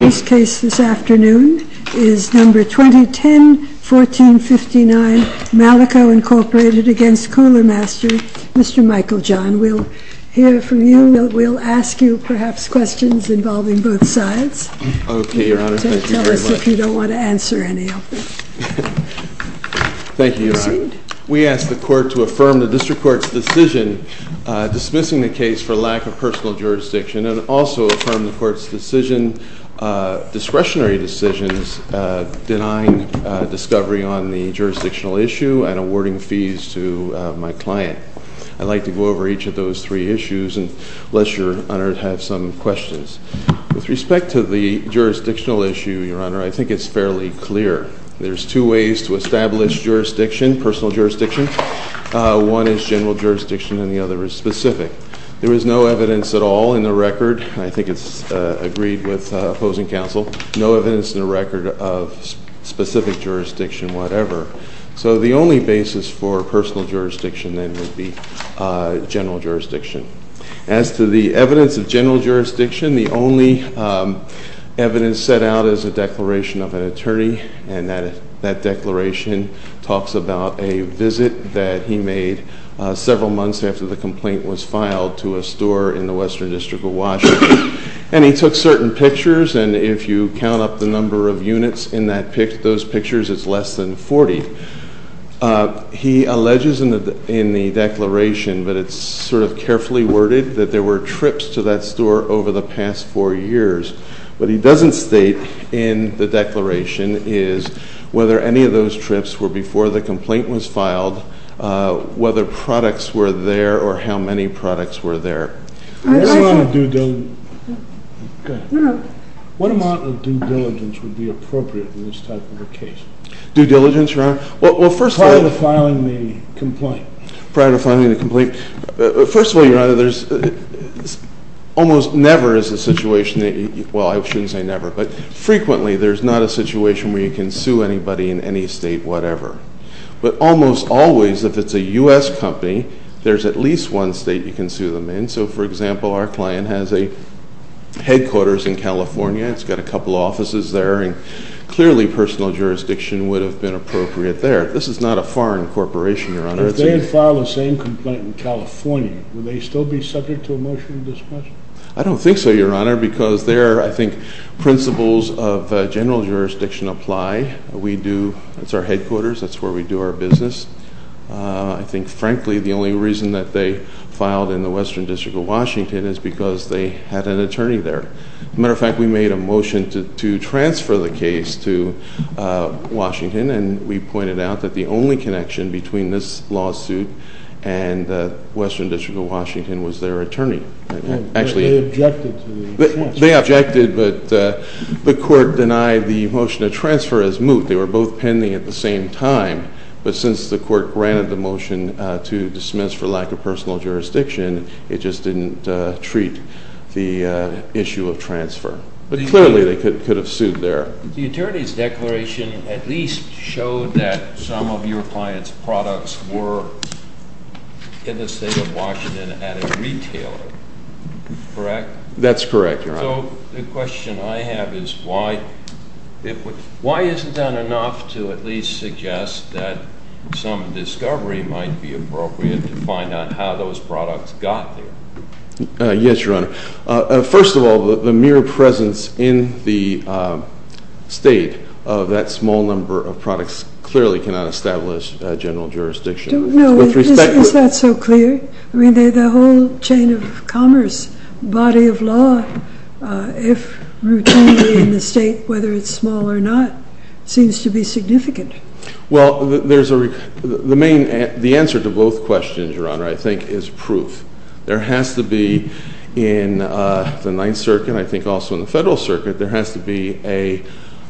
This case this afternoon is No. 2010-1459, Malico, Inc. v. Cooler Master. Mr. Michael John, we'll hear from you. We'll ask you perhaps questions involving both sides. Okay, Your Honor. Thank you very much. Tell us if you don't want to answer any of them. Thank you, Your Honor. Proceed. We ask the Court to affirm the District Court's decision dismissing the case for lack of personal jurisdiction and also affirm the Court's discretionary decisions denying discovery on the jurisdictional issue and awarding fees to my client. I'd like to go over each of those three issues unless Your Honor has some questions. With respect to the jurisdictional issue, Your Honor, I think it's fairly clear. There's two ways to establish jurisdiction, personal jurisdiction. One is general jurisdiction and the other is specific. There is no evidence at all in the record. I think it's agreed with opposing counsel. No evidence in the record of specific jurisdiction, whatever. So the only basis for personal jurisdiction then would be general jurisdiction. As to the evidence of general jurisdiction, the only evidence set out is a declaration of an attorney and that declaration talks about a visit that he made several months after the complaint was filed to a store in the Western District of Washington. And he took certain pictures, and if you count up the number of units in those pictures, it's less than 40. He alleges in the declaration, but it's sort of carefully worded, that there were trips to that store over the past four years. What he doesn't state in the declaration is whether any of those trips were before the complaint was filed, whether products were there, or how many products were there. What amount of due diligence would be appropriate in this type of a case? Due diligence, Your Honor? Prior to filing the complaint. Prior to filing the complaint. First of all, Your Honor, there's almost never is a situation, well, I shouldn't say never, but frequently there's not a situation where you can sue anybody in any state, whatever. But almost always, if it's a U.S. company, there's at least one state you can sue them in. So, for example, our client has a headquarters in California. It's got a couple offices there, and clearly personal jurisdiction would have been appropriate there. This is not a foreign corporation, Your Honor. If they had filed the same complaint in California, would they still be subject to a motion to dismiss? I don't think so, Your Honor, because there, I think, principles of general jurisdiction apply. We do, it's our headquarters, that's where we do our business. I think, frankly, the only reason that they filed in the Western District of Washington is because they had an attorney there. As a matter of fact, we made a motion to transfer the case to Washington, and we pointed out that the only connection between this lawsuit and the Western District of Washington was their attorney. They objected to the transfer. They objected, but the court denied the motion to transfer as moved. They were both pending at the same time. But since the court granted the motion to dismiss for lack of personal jurisdiction, it just didn't treat the issue of transfer. But clearly they could have sued there. The attorney's declaration at least showed that some of your clients' products were in the state of Washington at a retailer, correct? That's correct, Your Honor. So the question I have is why isn't that enough to at least suggest that some discovery might be appropriate to find out how those products got there? Yes, Your Honor. First of all, the mere presence in the state of that small number of products clearly cannot establish general jurisdiction. No, is that so clear? I mean, the whole chain of commerce, body of law, if routinely in the state, whether it's small or not, seems to be significant. Well, the answer to both questions, Your Honor, I think is proof. There has to be in the Ninth Circuit, and I think also in the Federal Circuit, there has to be a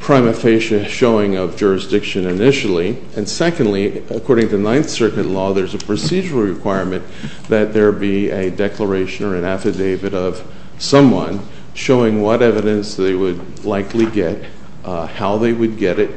prima facie showing of jurisdiction initially. And secondly, according to Ninth Circuit law, there's a procedural requirement that there be a declaration or an affidavit of someone showing what evidence they would likely get, how they would get it,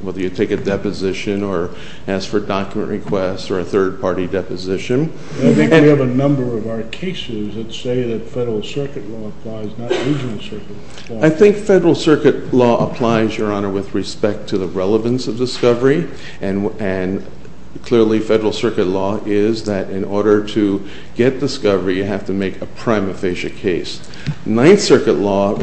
whether you take a deposition or ask for document requests or a third-party deposition. I think we have a number of our cases that say that Federal Circuit law applies, not Regional Circuit law. I think Federal Circuit law applies, Your Honor, with respect to the relevance of discovery. And clearly, Federal Circuit law is that in order to get discovery, you have to make a prima facie case. Ninth Circuit law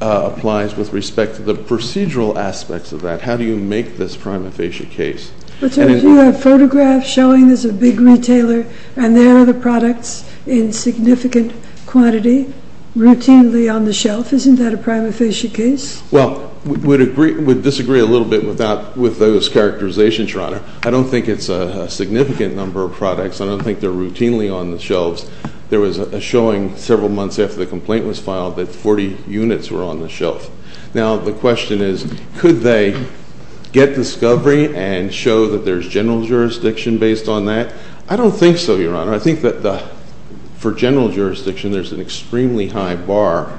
applies with respect to the procedural aspects of that. How do you make this prima facie case? But, sir, if you have photographs showing there's a big retailer and there are the products in significant quantity routinely on the shelf, isn't that a prima facie case? Well, I would disagree a little bit with those characterizations, Your Honor. I don't think it's a significant number of products. I don't think they're routinely on the shelves. There was a showing several months after the complaint was filed that 40 units were on the shelf. Now, the question is, could they get discovery and show that there's general jurisdiction based on that? I don't think so, Your Honor. I think that for general jurisdiction, there's an extremely high bar.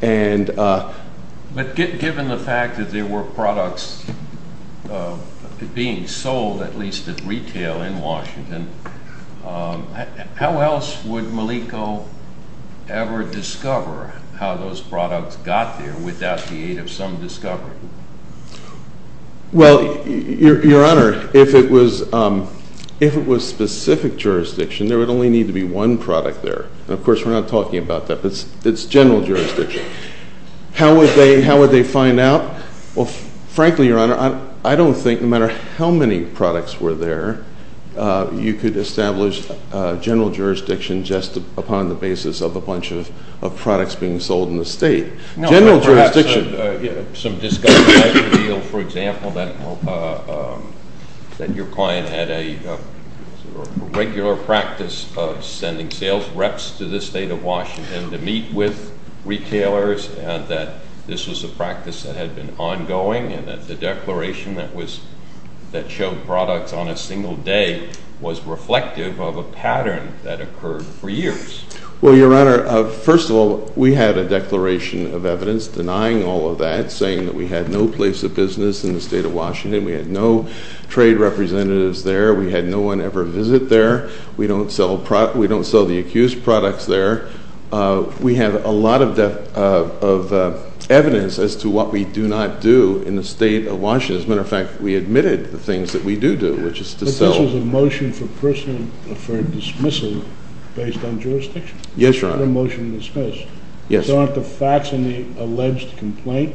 But given the fact that there were products being sold, at least at retail, in Washington, how else would Malico ever discover how those products got there without the aid of some discovery? Well, Your Honor, if it was specific jurisdiction, there would only need to be one product there. And, of course, we're not talking about that, but it's general jurisdiction. How would they find out? Well, frankly, Your Honor, I don't think no matter how many products were there, you could establish general jurisdiction just upon the basis of a bunch of products being sold in the state. General jurisdiction. Some discovery might reveal, for example, that your client had a regular practice of sending sales reps to the state of Washington to meet with retailers and that this was a practice that had been ongoing and that the declaration that showed products on a single day was reflective of a pattern that occurred for years. Well, Your Honor, first of all, we had a declaration of evidence denying all of that, saying that we had no place of business in the state of Washington. We had no trade representatives there. We had no one ever visit there. We don't sell the accused products there. We have a lot of evidence as to what we do not do in the state of Washington. As a matter of fact, we admitted the things that we do do, which is to sell. This is a motion for dismissal based on jurisdiction? Yes, Your Honor. Not a motion to dismiss? Yes. So aren't the facts in the alleged complaint,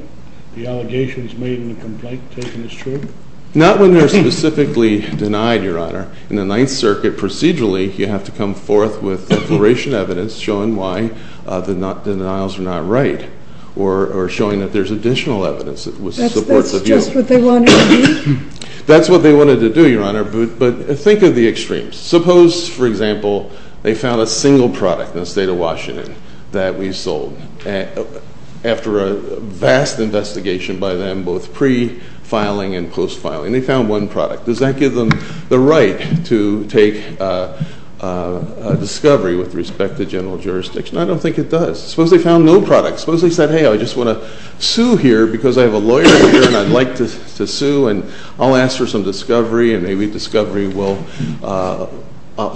the allegations made in the complaint, taken as true? Not when they're specifically denied, Your Honor. In the Ninth Circuit, procedurally, you have to come forth with declaration evidence showing why the denials are not right or showing that there's additional evidence that supports a view. That's just what they wanted to do? That's what they wanted to do, Your Honor, but think of the extremes. Suppose, for example, they found a single product in the state of Washington that we sold after a vast investigation by them, both pre-filing and post-filing. They found one product. Does that give them the right to take a discovery with respect to general jurisdiction? I don't think it does. Suppose they found no product. Suppose they said, hey, I just want to sue here because I have a lawyer here and I'd like to sue and I'll ask for some discovery and maybe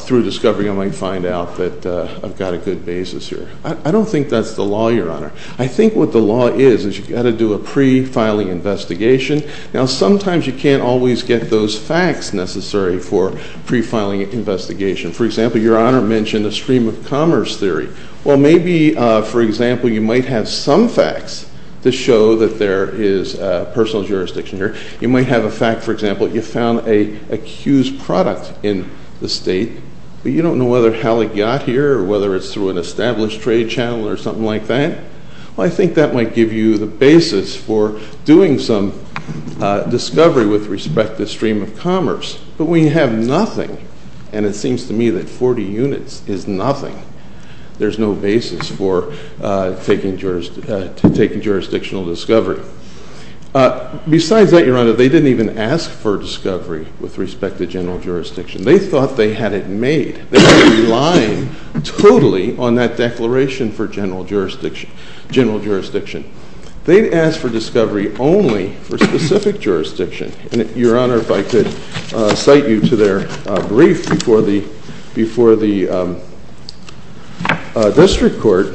through discovery I might find out that I've got a good basis here. I don't think that's the law, Your Honor. I think what the law is is you've got to do a pre-filing investigation. Now, sometimes you can't always get those facts necessary for pre-filing investigation. For example, Your Honor mentioned a stream of commerce theory. Well, maybe, for example, you might have some facts to show that there is personal jurisdiction here. You might have a fact, for example, you found an accused product in the state, but you don't know whether how it got here or whether it's through an established trade channel or something like that. Well, I think that might give you the basis for doing some discovery with respect to stream of commerce. But we have nothing, and it seems to me that 40 units is nothing. There's no basis for taking jurisdictional discovery. Besides that, Your Honor, they didn't even ask for discovery with respect to general jurisdiction. They thought they had it made. They were relying totally on that declaration for general jurisdiction. They'd ask for discovery only for specific jurisdiction. And Your Honor, if I could cite you to their brief before the district court.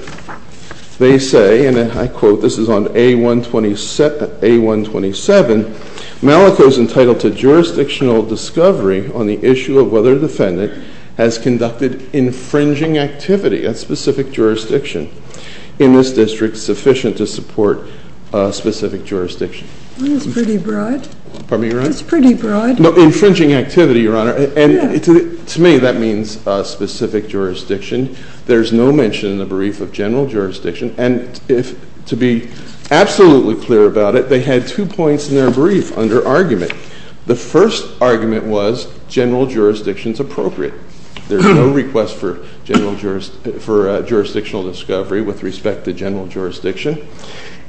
They say, and I quote, this is on A127, Malico's entitled to jurisdictional discovery on the issue of whether the defendant has conducted infringing activity at specific jurisdiction in this district sufficient to support specific jurisdiction. That's pretty broad. Pardon me, Your Honor? That's pretty broad. No, infringing activity, Your Honor. And to me, that means specific jurisdiction. There's no mention in the brief of general jurisdiction. And to be absolutely clear about it, they had two points in their brief under argument. The first argument was general jurisdiction's appropriate. There's no request for jurisdictional discovery with respect to general jurisdiction.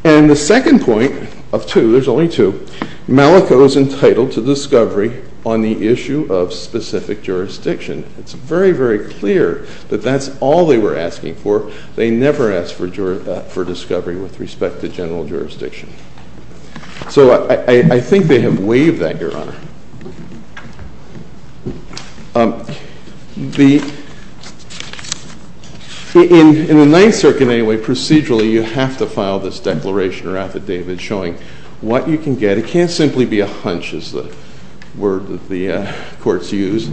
And the second point of two, there's only two, Malico's entitled to discovery on the issue of specific jurisdiction. It's very, very clear that that's all they were asking for. They never asked for discovery with respect to general jurisdiction. So I think they have waived that, Your Honor. In the Ninth Circuit anyway, procedurally, you have to file this declaration or affidavit showing what you can get. It can't simply be a hunch is the word that the courts use.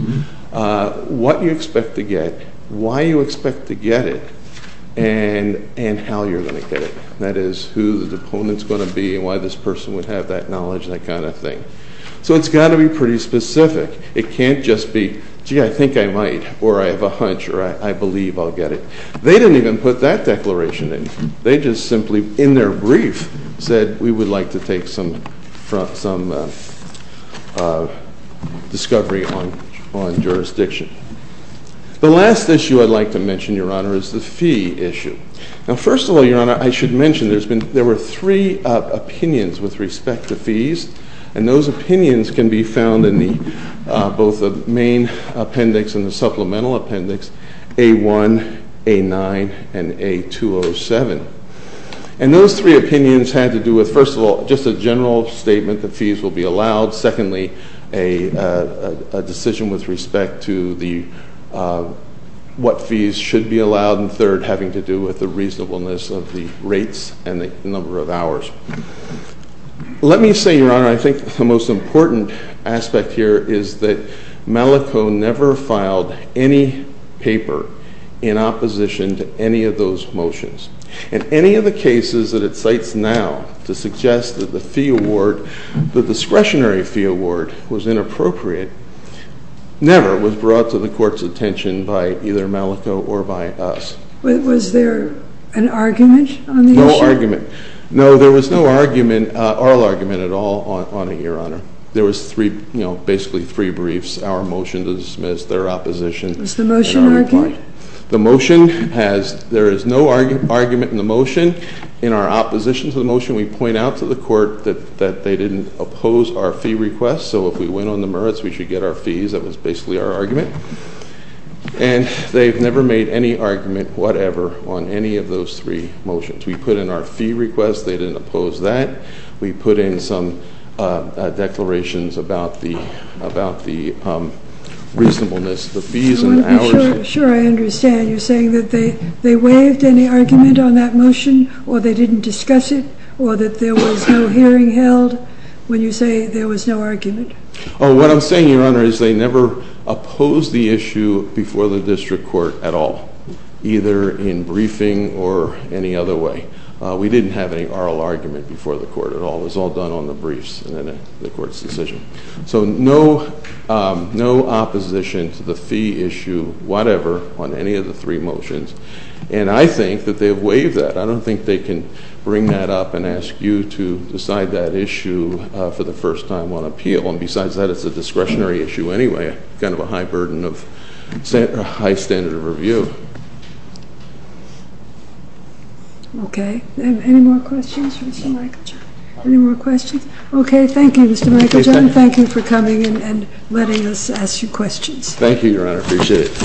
What you expect to get, why you expect to get it, and how you're going to get it. That is, who the opponent's going to be and why this person would have that knowledge and that kind of thing. So it's got to be pretty specific. It can't just be, gee, I think I might, or I have a hunch, or I believe I'll get it. They didn't even put that declaration in. They just simply, in their brief, said we would like to take some discovery on jurisdiction. The last issue I'd like to mention, Your Honor, is the fee issue. Now first of all, Your Honor, I should mention there were three opinions with respect to fees. And those opinions can be found in both the main appendix and the supplemental appendix, A1, A9, and A207. And those three opinions had to do with, first of all, just a general statement that fees will be allowed. Secondly, a decision with respect to what fees should be allowed. And third, having to do with the reasonableness of the rates and the number of hours. Let me say, Your Honor, I think the most important aspect here is that Malico never filed any paper in opposition to any of those motions. And any of the cases that it cites now to suggest that the fee award, the discretionary fee award was inappropriate, never was brought to the Court's attention by either Malico or by us. Was there an argument on the issue? No argument. No, there was no argument, oral argument at all on it, Your Honor. There was three, you know, basically three briefs, our motion to dismiss, their opposition. Was the motion argued? The motion has, there is no argument in the motion. In our opposition to the motion, we point out to the court that they didn't oppose our fee request. So if we went on the merits, we should get our fees. That was basically our argument. And they've never made any argument, whatever, on any of those three motions. We put in our fee request. They didn't oppose that. We put in some declarations about the reasonableness, the fees and the hours. Sure, I understand. You're saying that they waived any argument on that motion or they didn't discuss it or that there was no hearing held when you say there was no argument? What I'm saying, Your Honor, is they never opposed the issue before the district court at all, either in briefing or any other way. We didn't have any oral argument before the court at all. It was all done on the briefs and then the Court's decision. So no opposition to the fee issue, whatever, on any of the three motions. And I think that they've waived that. I don't think they can bring that up and ask you to decide that issue for the first time on appeal. And besides that, it's a discretionary issue anyway, kind of a high burden of high standard of review. Okay. Any more questions for Mr. Michael Johnson? Any more questions? Okay. Thank you, Mr. Michael Johnson. Thank you for coming and letting us ask you questions. Thank you, Your Honor. I appreciate it.